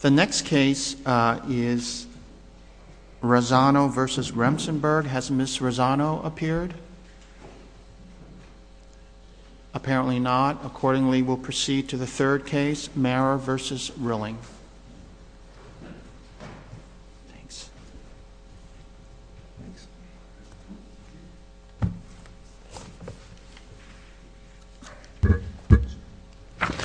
The next case is Rosano v. Remsenburg. Has Ms. Rosano appeared? Apparently not. Accordingly, we'll proceed to the third case, Mara v. Rilling. Thanks. The third case is Rosano v.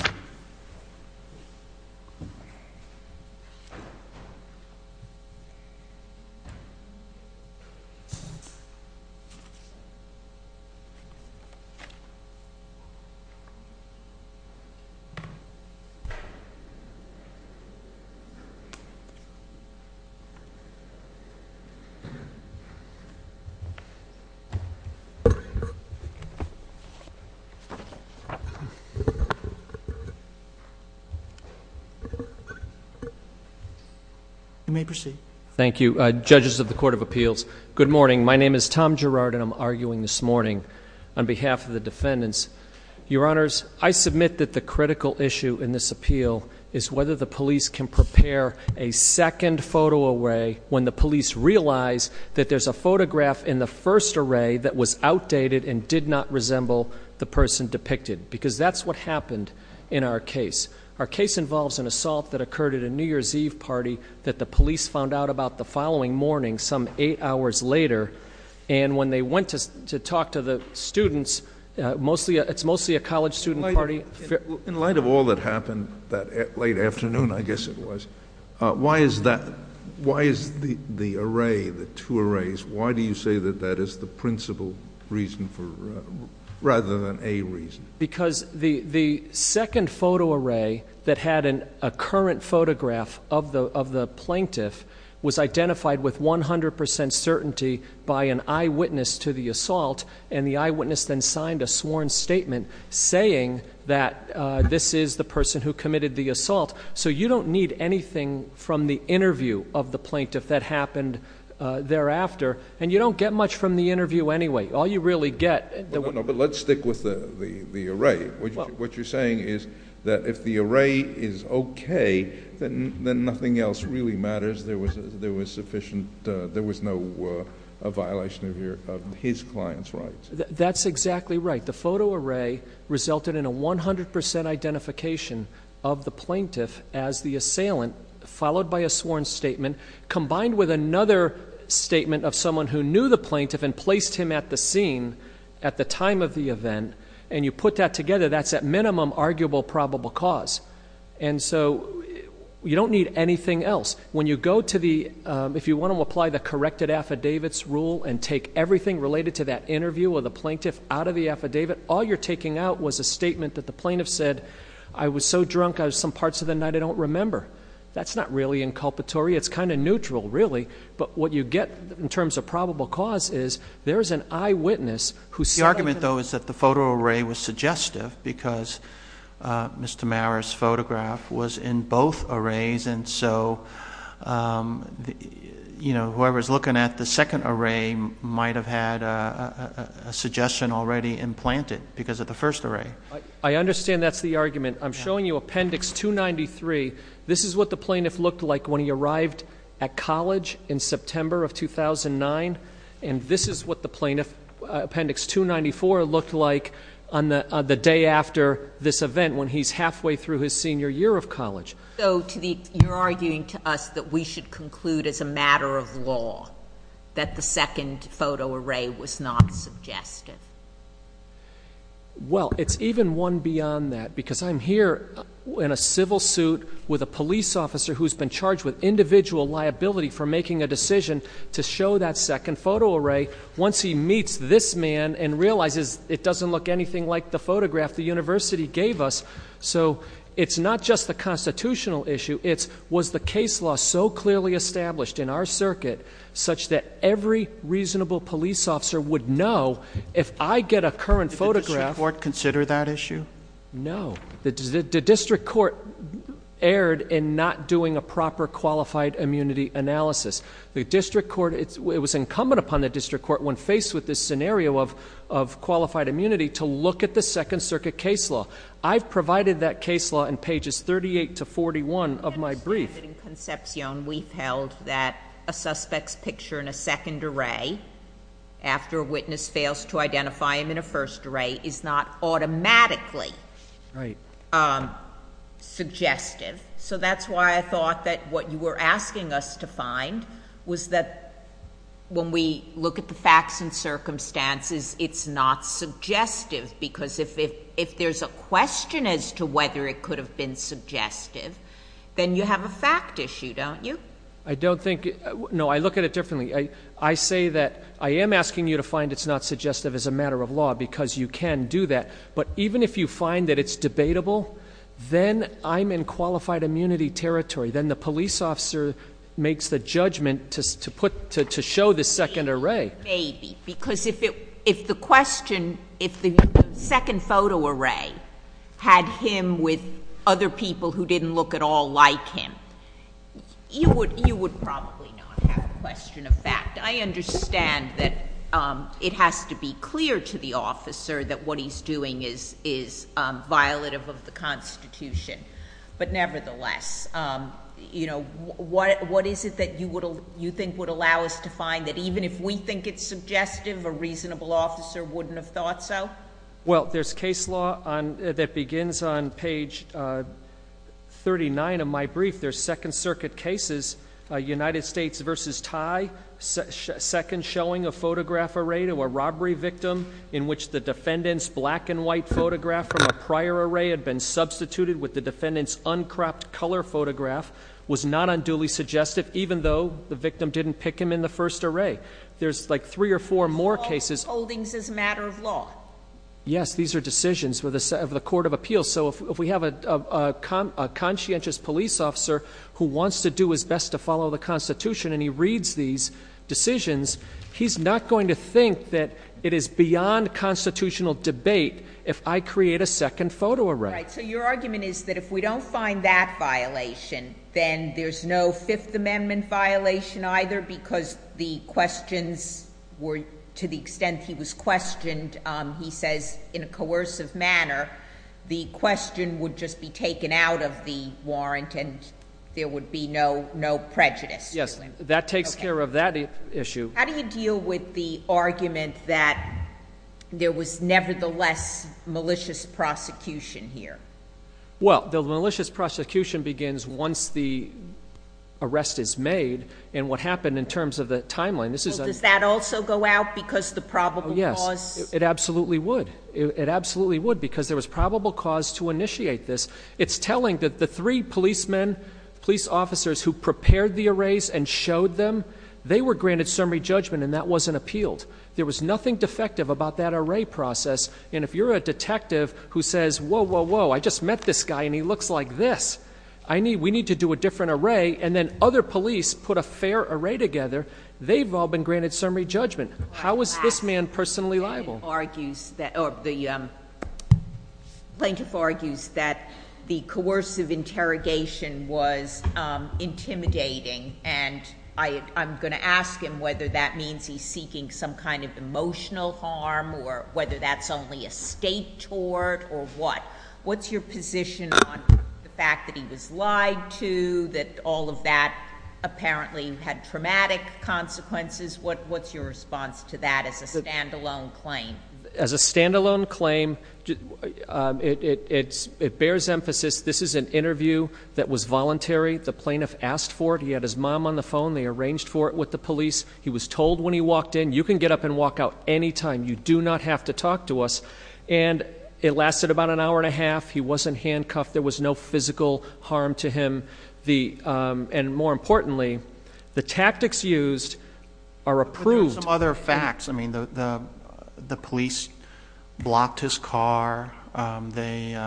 Remsenburg. You may proceed. Thank you. Judges of the Court of Appeals, good morning. My name is Tom Gerard, and I'm arguing this morning on behalf of the defendants. Your Honors, I submit that the critical issue in this appeal is whether the police can prepare a second photo array when the police realize that there's a photograph in the first array that was outdated and did not resemble the person depicted, because that's what happened in our case. Our case involves an assault that occurred at a New Year's Eve party that the police found out about the following morning, some eight hours later. And when they went to talk to the students, it's mostly a college student party. In light of all that happened that late afternoon, I guess it was, why is the array, the two arrays, why do you say that that is the principal reason rather than a reason? Because the second photo array that had a current photograph of the plaintiff was identified with 100% certainty by an eyewitness to the assault. And the eyewitness then signed a sworn statement saying that this is the person who committed the assault. So you don't need anything from the interview of the plaintiff that happened thereafter. And you don't get much from the interview anyway. All you really get- No, but let's stick with the array. What you're saying is that if the array is okay, then nothing else really matters. There was sufficient, there was no violation of his client's rights. That's exactly right. The photo array resulted in a 100% identification of the plaintiff as the assailant, followed by a sworn statement, combined with another statement of someone who knew the plaintiff and the time of the event, and you put that together, that's at minimum arguable probable cause. And so, you don't need anything else. When you go to the, if you want to apply the corrected affidavits rule and take everything related to that interview of the plaintiff out of the affidavit, all you're taking out was a statement that the plaintiff said, I was so drunk, I was some parts of the night I don't remember. That's not really inculpatory, it's kind of neutral really. But what you get in terms of probable cause is, there's an eyewitness who- The argument though is that the photo array was suggestive, because Mr. Mara's photograph was in both arrays, and so whoever's looking at the second array might have had a suggestion already implanted, because of the first array. I understand that's the argument. I'm showing you appendix 293. This is what the plaintiff looked like when he arrived at college in September of 2009. And this is what the plaintiff, appendix 294, looked like on the day after this event when he's halfway through his senior year of college. So to the, you're arguing to us that we should conclude as a matter of law that the second photo array was not suggestive. Well, it's even one beyond that, because I'm here in a civil suit with a police officer who's been charged with individual liability for making a decision to show that second photo array once he meets this man and realizes it doesn't look anything like the photograph the university gave us. So it's not just the constitutional issue, it's was the case law so clearly established in our circuit such that every reasonable police officer would know if I get a current photograph- Did the district court consider that issue? No. The district court erred in not doing a proper qualified immunity analysis. The district court, it was incumbent upon the district court when faced with this scenario of qualified immunity to look at the second circuit case law. I've provided that case law in pages 38 to 41 of my brief. In conception, we've held that a suspect's picture in a second array, after a witness fails to identify him in a first array, is not automatically suggestive. So that's why I thought that what you were asking us to find was that when we look at the facts and circumstances, it's not suggestive. Because if there's a question as to whether it could have been suggestive, then you have a fact issue, don't you? I don't think, no, I look at it differently. I say that I am asking you to find it's not suggestive as a matter of law, because you can do that. But even if you find that it's debatable, then I'm in qualified immunity territory. Then the police officer makes the judgment to show the second array. Maybe, because if the question, if the second photo array had him with other people who didn't look at all like him, you would probably not have a question of fact. I understand that it has to be clear to the officer that what he's doing is violative of the Constitution. But nevertheless, what is it that you think would allow us to find that even if we think it's suggestive, a reasonable officer wouldn't have thought so? Well, there's case law that begins on page 39 of my brief. There's Second Circuit cases, United States versus Thai, second showing a photograph array to a robbery victim in which the defendant's black and white photograph from a prior array had been substituted with the defendant's uncropped color photograph was not unduly suggestive, even though the victim didn't pick him in the first array. There's like three or four more cases- Yes, these are decisions of the Court of Appeals. So if we have a conscientious police officer who wants to do his best to follow the Constitution and he reads these decisions, he's not going to think that it is beyond constitutional debate if I create a second photo array. Right, so your argument is that if we don't find that violation, then there's no Fifth Amendment violation either because the questions were, to the extent he was questioned, he says in a coercive manner, the question would just be taken out of the warrant and there would be no prejudice. Yes, that takes care of that issue. How do you deal with the argument that there was nevertheless malicious prosecution here? Well, the malicious prosecution begins once the arrest is made, and what happened in terms of the timeline. Does that also go out because of the probable cause? Yes, it absolutely would. It absolutely would because there was probable cause to initiate this. It's telling that the three policemen, police officers who prepared the arrays and showed them, they were granted summary judgment and that wasn't appealed. There was nothing defective about that array process. And if you're a detective who says, whoa, whoa, whoa, I just met this guy and he looks like this. We need to do a different array and then other police put a fair array together. They've all been granted summary judgment. How is this man personally liable? The plaintiff argues that the coercive interrogation was intimidating and I'm going to ask him whether that means he's seeking some kind of emotional harm or whether that's only a state tort or what. What's your position on the fact that he was lied to, that all of that apparently had traumatic consequences? What's your response to that as a standalone claim? As a standalone claim, it bears emphasis, this is an interview that was voluntary. The plaintiff asked for it. He had his mom on the phone. They arranged for it with the police. He was told when he walked in, you can get up and walk out any time. You do not have to talk to us. And it lasted about an hour and a half. He wasn't handcuffed. There was no physical harm to him. And more importantly, the tactics used are approved. Some other facts, I mean the police blocked his car. They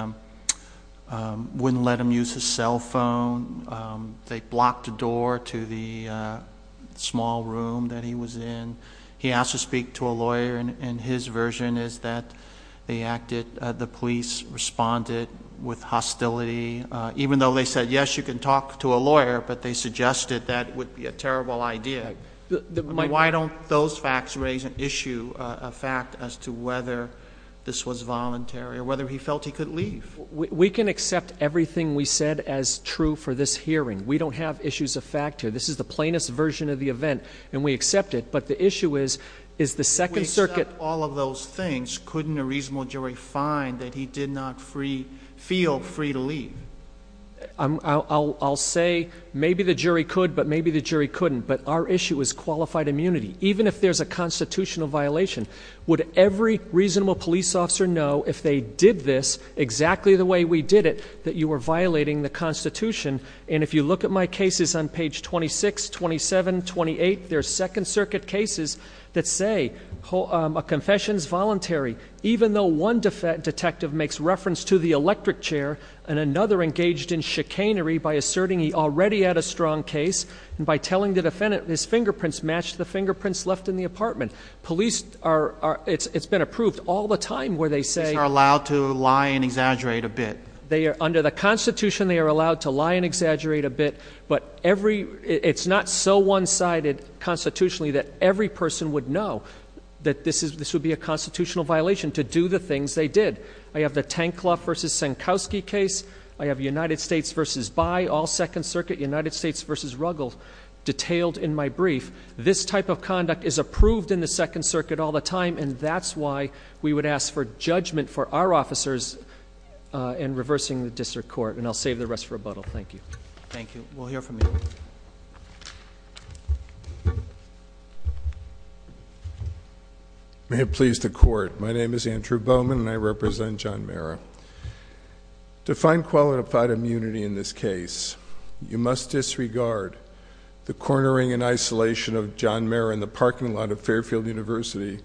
wouldn't let him use his cell phone. They blocked the door to the small room that he was in. He asked to speak to a lawyer and his version is that the police responded with hostility, even though they said, yes, you can talk to a lawyer. But they suggested that would be a terrible idea. I mean, why don't those facts raise an issue, a fact as to whether this was voluntary or whether he felt he could leave? We can accept everything we said as true for this hearing. We don't have issues of fact here. This is the plaintiff's version of the event and we accept it. But the issue is, is the Second Circuit- Does not feel free to leave. I'll say maybe the jury could, but maybe the jury couldn't. But our issue is qualified immunity, even if there's a constitutional violation. Would every reasonable police officer know if they did this exactly the way we did it, that you were violating the Constitution? And if you look at my cases on page 26, 27, 28, there's Second Circuit cases that say a confession's voluntary, even though one detective makes reference to the electric chair and another engaged in chicanery by asserting he already had a strong case. And by telling the defendant his fingerprints matched the fingerprints left in the apartment. Police are, it's been approved all the time where they say- These are allowed to lie and exaggerate a bit. They are, under the Constitution, they are allowed to lie and exaggerate a bit. But every, it's not so one sided constitutionally that every person would know that this would be a constitutional violation to do the things they did. I have the Tankloff versus Sankowski case, I have United States versus Bayh, all Second Circuit, United States versus Ruggles. Detailed in my brief, this type of conduct is approved in the Second Circuit all the time, and that's why we would ask for judgment for our officers in reversing the district court. And I'll save the rest for rebuttal, thank you. Thank you, we'll hear from you. May it please the court, my name is Andrew Bowman and I represent John Mara. To find qualified immunity in this case, you must disregard the cornering and isolation of John Mara in the parking lot of Fairfield University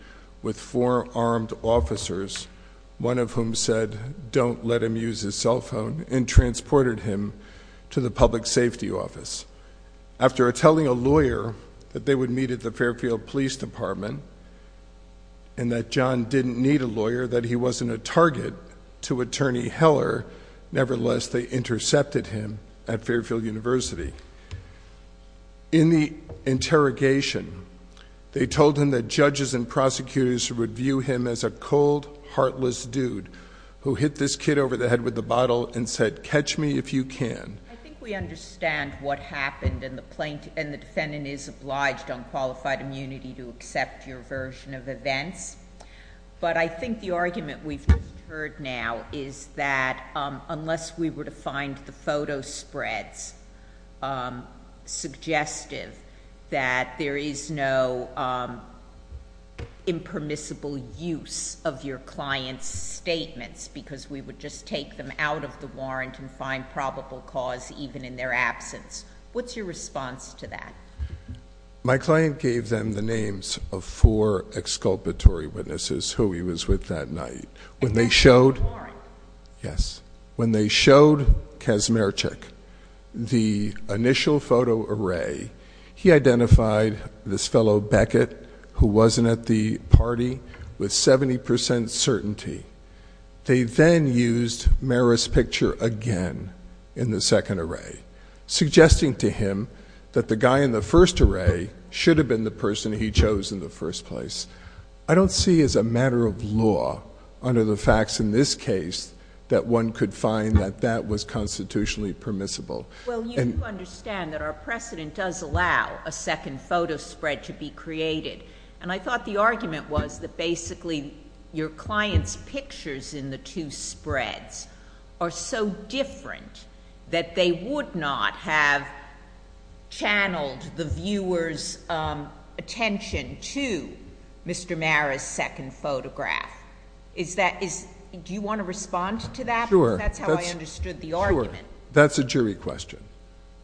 with four armed officers. One of whom said, don't let him use his cell phone, and transported him to the public safety office. After telling a lawyer that they would meet at the Fairfield Police Department, and that John didn't need a lawyer, that he wasn't a target to Attorney Heller. Nevertheless, they intercepted him at Fairfield University. In the interrogation, they told him that judges and the heartless dude who hit this kid over the head with the bottle and said, catch me if you can. I think we understand what happened and the defendant is obliged on qualified immunity to accept your version of events. But I think the argument we've just heard now is that unless we were to find the photo spreads suggestive that there is no impermissible use of your client's statements because we would just take them out of the warrant and find probable cause even in their absence. What's your response to that? My client gave them the names of four exculpatory witnesses who he was with that night. When they showed- A death by warrant. Yes. When they showed Kazmierczak the initial photo array, he identified this fellow Beckett who wasn't at the party with 70% certainty. They then used Mara's picture again in the second array, suggesting to him that the guy in the first array should have been the person he chose in the first place. I don't see as a matter of law under the facts in this case that one could find that that was constitutionally permissible. Well, you understand that our precedent does allow a second photo spread to be created. And I thought the argument was that basically your client's pictures in the two spreads are so different that they would not have channeled the viewer's attention to Mr. Mara's second photograph. Do you want to respond to that? Sure. That's how I understood the argument. That's a jury question.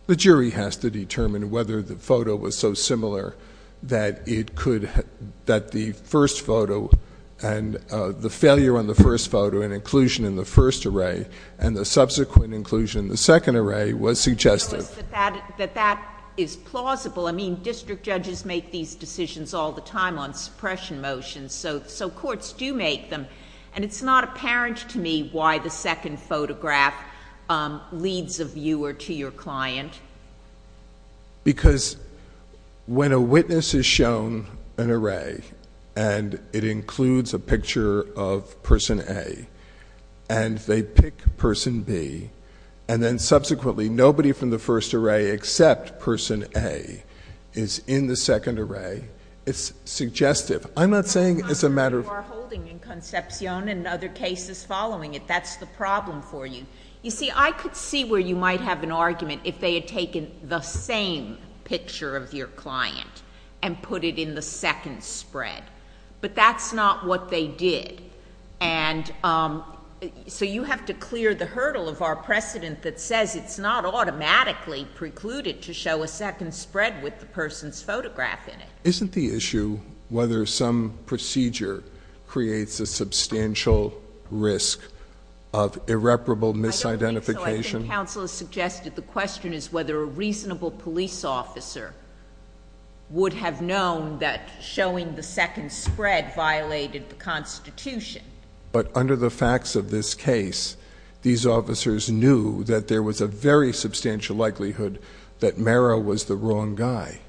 The jury has to determine whether the photo was so similar that it could, that the first photo and the failure on the first photo and inclusion in the first array, and the subsequent inclusion in the second array was suggestive. That that is plausible. I mean, district judges make these decisions all the time on suppression motions, so courts do make them. And it's not apparent to me why the second photograph leads a viewer to your client. Because when a witness is shown an array and it includes a picture of person A, and they pick person B, and then subsequently nobody from the first array except person A is in the second array, it's suggestive. I'm not saying it's a matter of- You are holding in Concepcion and other cases following it. That's the problem for you. You see, I could see where you might have an argument if they had taken the same picture of your client and put it in the second spread. But that's not what they did. And so you have to clear the hurdle of our precedent that says it's not automatically precluded to show a second spread with the person's photograph in it. Isn't the issue whether some procedure creates a substantial risk of irreparable misidentification? I think counsel has suggested the question is whether a reasonable police officer would have known that showing the second spread violated the Constitution. But under the facts of this case, these officers knew that there was a very substantial likelihood that Merrill was the wrong guy.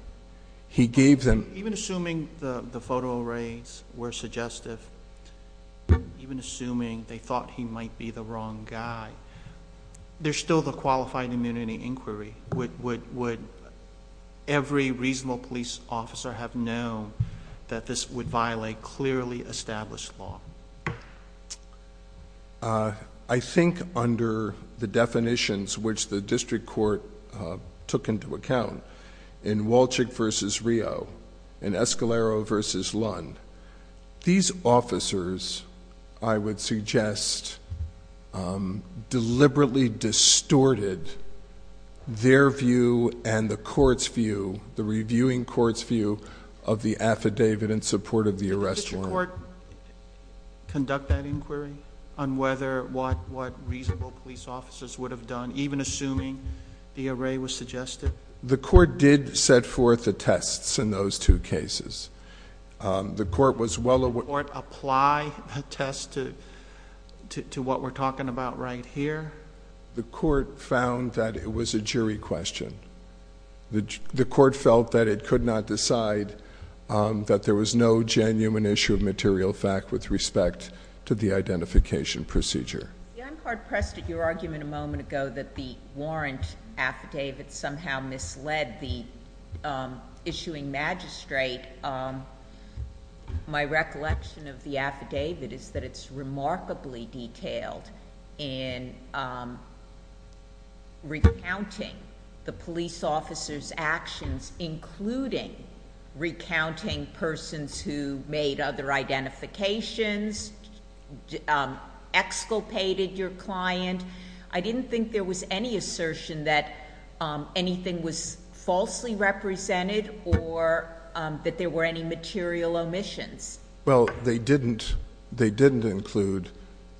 He gave them- Even assuming the photo arrays were suggestive, even assuming they thought he might be the wrong guy, there's still the qualified immunity inquiry. Would every reasonable police officer have known that this would violate clearly established law? I think under the definitions which the district court took into account. In Wolchick versus Rio, in Escalero versus Lund, these officers, I would suggest, deliberately distorted their view and the court's view, the reviewing court's view of the affidavit in support of the arrest warrant. Did the court conduct that inquiry on whether what reasonable police officers would have done, even assuming the array was suggestive? The court did set forth the tests in those two cases. The court was well- Did the court apply a test to what we're talking about right here? The court found that it was a jury question. The court felt that it could not decide that there was no genuine issue of material fact with respect to the identification procedure. Jan Card pressed at your argument a moment ago that the warrant affidavit somehow misled the issuing magistrate. My recollection of the affidavit is that it's remarkably detailed in recounting the police officer's actions, including recounting persons who made other identifications, exculpated your client. I didn't think there was any assertion that anything was falsely represented or that there were any material omissions. Well, they didn't include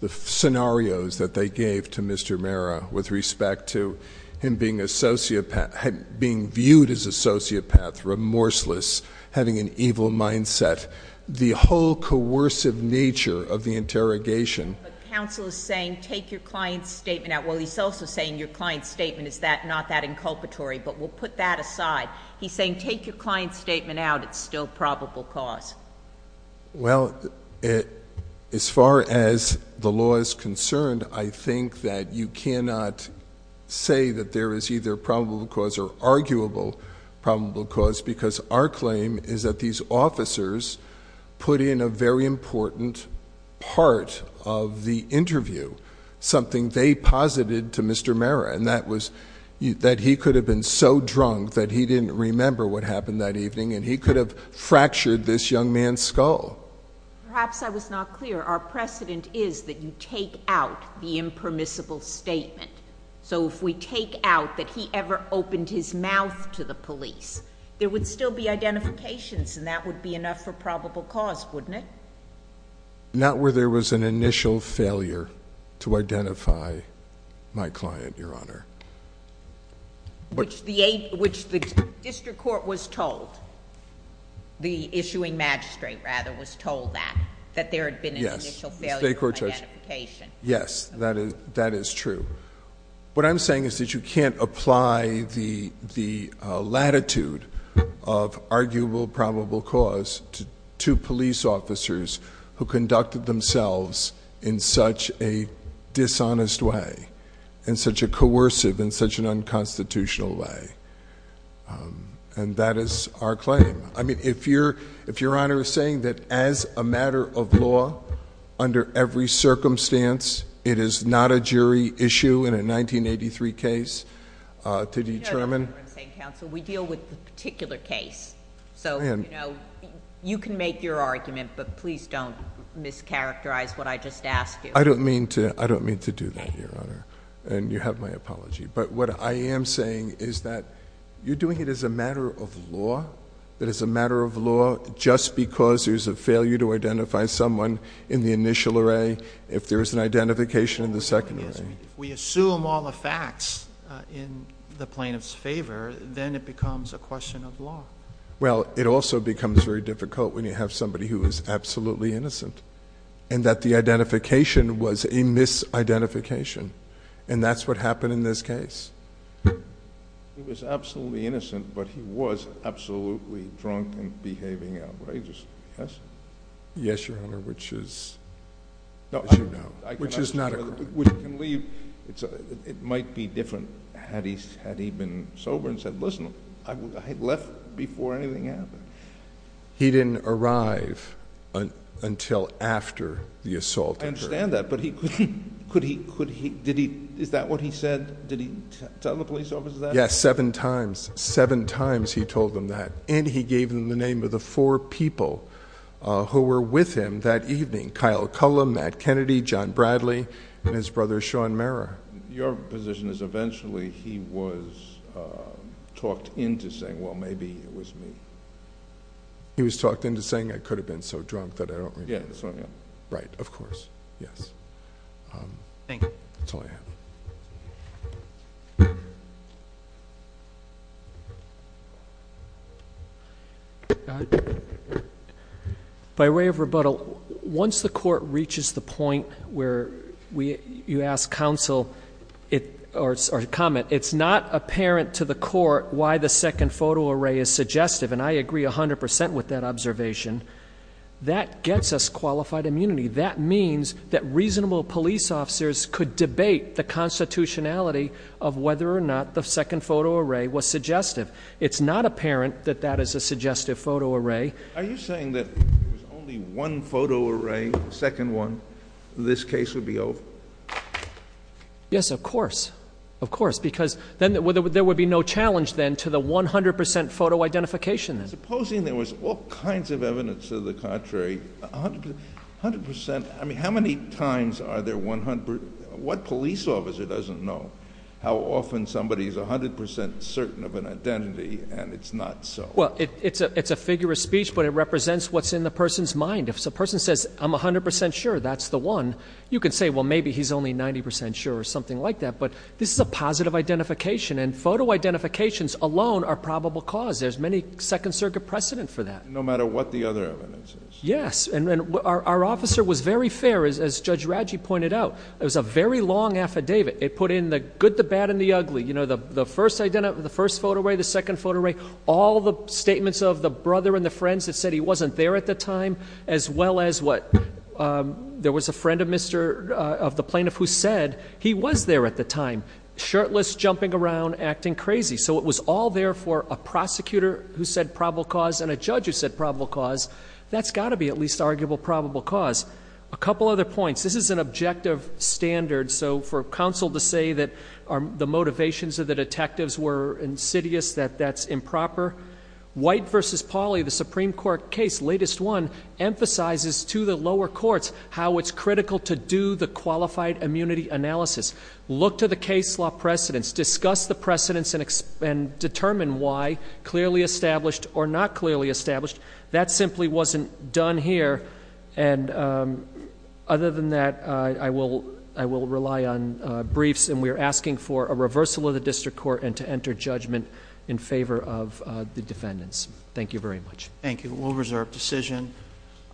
the scenarios that they gave to Mr. Mara with respect to him being viewed as a sociopath, remorseless, having an evil mindset, the whole coercive nature of the interrogation. Counsel is saying take your client's statement out. Well, he's also saying your client's statement is not that inculpatory, but we'll put that aside. He's saying take your client's statement out, it's still probable cause. Well, as far as the law is concerned, I think that you cannot say that there is either probable cause or arguable probable cause because our claim is that these officers put in a very important part of the interview, something they posited to Mr. Mara, and that was that he could have been so Perhaps I was not clear. Our precedent is that you take out the impermissible statement. So if we take out that he ever opened his mouth to the police, there would still be identifications, and that would be enough for probable cause, wouldn't it? Not where there was an initial failure to identify my client, Your Honor. Which the district court was told, the issuing magistrate rather, was told that, that there had been an initial failure of identification. Yes, that is true. What I'm saying is that you can't apply the latitude of arguable, probable cause to two police officers who conducted themselves in such a dishonest way, in such a coercive, in such an unconstitutional way. And that is our claim. I mean, if Your Honor is saying that as a matter of law, under every circumstance, it is not a jury issue in a 1983 case to determine. No, Your Honor, I'm saying counsel, we deal with the particular case. So you can make your argument, but please don't mischaracterize what I just asked you. I don't mean to do that, Your Honor, and you have my apology. But what I am saying is that you're doing it as a matter of law, that it's a matter of law just because there's a failure to identify someone in the initial array. If there's an identification in the second array. We assume all the facts in the plaintiff's favor, then it becomes a question of law. Well, it also becomes very difficult when you have somebody who is absolutely innocent. And that the identification was a misidentification. And that's what happened in this case. He was absolutely innocent, but he was absolutely drunk and behaving outrageously, yes? Yes, Your Honor, which is, as you know, which is not a crime. Which can leave, it might be different had he been sober and said, listen, I left before anything happened. He didn't arrive until after the assault occurred. I understand that, but could he, did he, is that what he said? Did he tell the police officer that? Yes, seven times. Seven times he told them that. And he gave them the name of the four people who were with him that evening. Kyle Cullen, Matt Kennedy, John Bradley, and his brother, Sean Mera. Your position is eventually he was talked into saying, well, maybe it was me. He was talked into saying I could have been so drunk that I don't remember. Yeah, that's all I have. Right, of course. Yes. Thank you. That's all I have. By way of rebuttal, once the court reaches the point where you ask counsel, or comment. It's not apparent to the court why the second photo array is suggestive. And I agree 100% with that observation. That gets us qualified immunity. That means that reasonable police officers could debate the constitutionality of whether or not the second photo array was suggestive. It's not apparent that that is a suggestive photo array. Are you saying that if it was only one photo array, the second one, this case would be over? Yes, of course. Of course, because then there would be no challenge then to the 100% photo identification. Supposing there was all kinds of evidence to the contrary, 100%. I mean, how many times are there 100, what police officer doesn't know how often somebody's 100% certain of an identity and it's not so? Well, it's a figure of speech, but it represents what's in the person's mind. If a person says, I'm 100% sure that's the one, you can say, well, maybe he's only 90% sure, or something like that. But this is a positive identification, and photo identifications alone are probable cause. There's many second circuit precedent for that. No matter what the other evidence is. Yes, and our officer was very fair, as Judge Radji pointed out. It was a very long affidavit. It put in the good, the bad, and the ugly. The first photo array, the second photo array, all the statements of the brother and the friends that said he wasn't there at the time, as well as what? There was a friend of the plaintiff who said he was there at the time, shirtless, jumping around, acting crazy. So it was all there for a prosecutor who said probable cause and a judge who said probable cause. That's got to be at least arguable probable cause. A couple other points. This is an objective standard, so for counsel to say that the motivations of the detectives were insidious, that that's improper. White versus Pauli, the Supreme Court case, latest one, emphasizes to the lower courts how it's critical to do the qualified immunity analysis. Look to the case law precedents, discuss the precedents and determine why clearly established or not clearly established. That simply wasn't done here. And other than that, I will rely on briefs and we are asking for a reversal of the district court and to enter judgment in favor of the defendants. Thank you very much. Thank you. We'll reserve decision.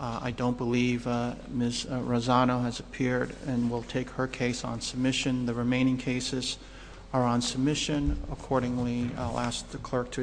I don't believe Ms. Rosano has appeared and will take her case on submission. The remaining cases are on submission. Accordingly, I'll ask the clerk to adjourn.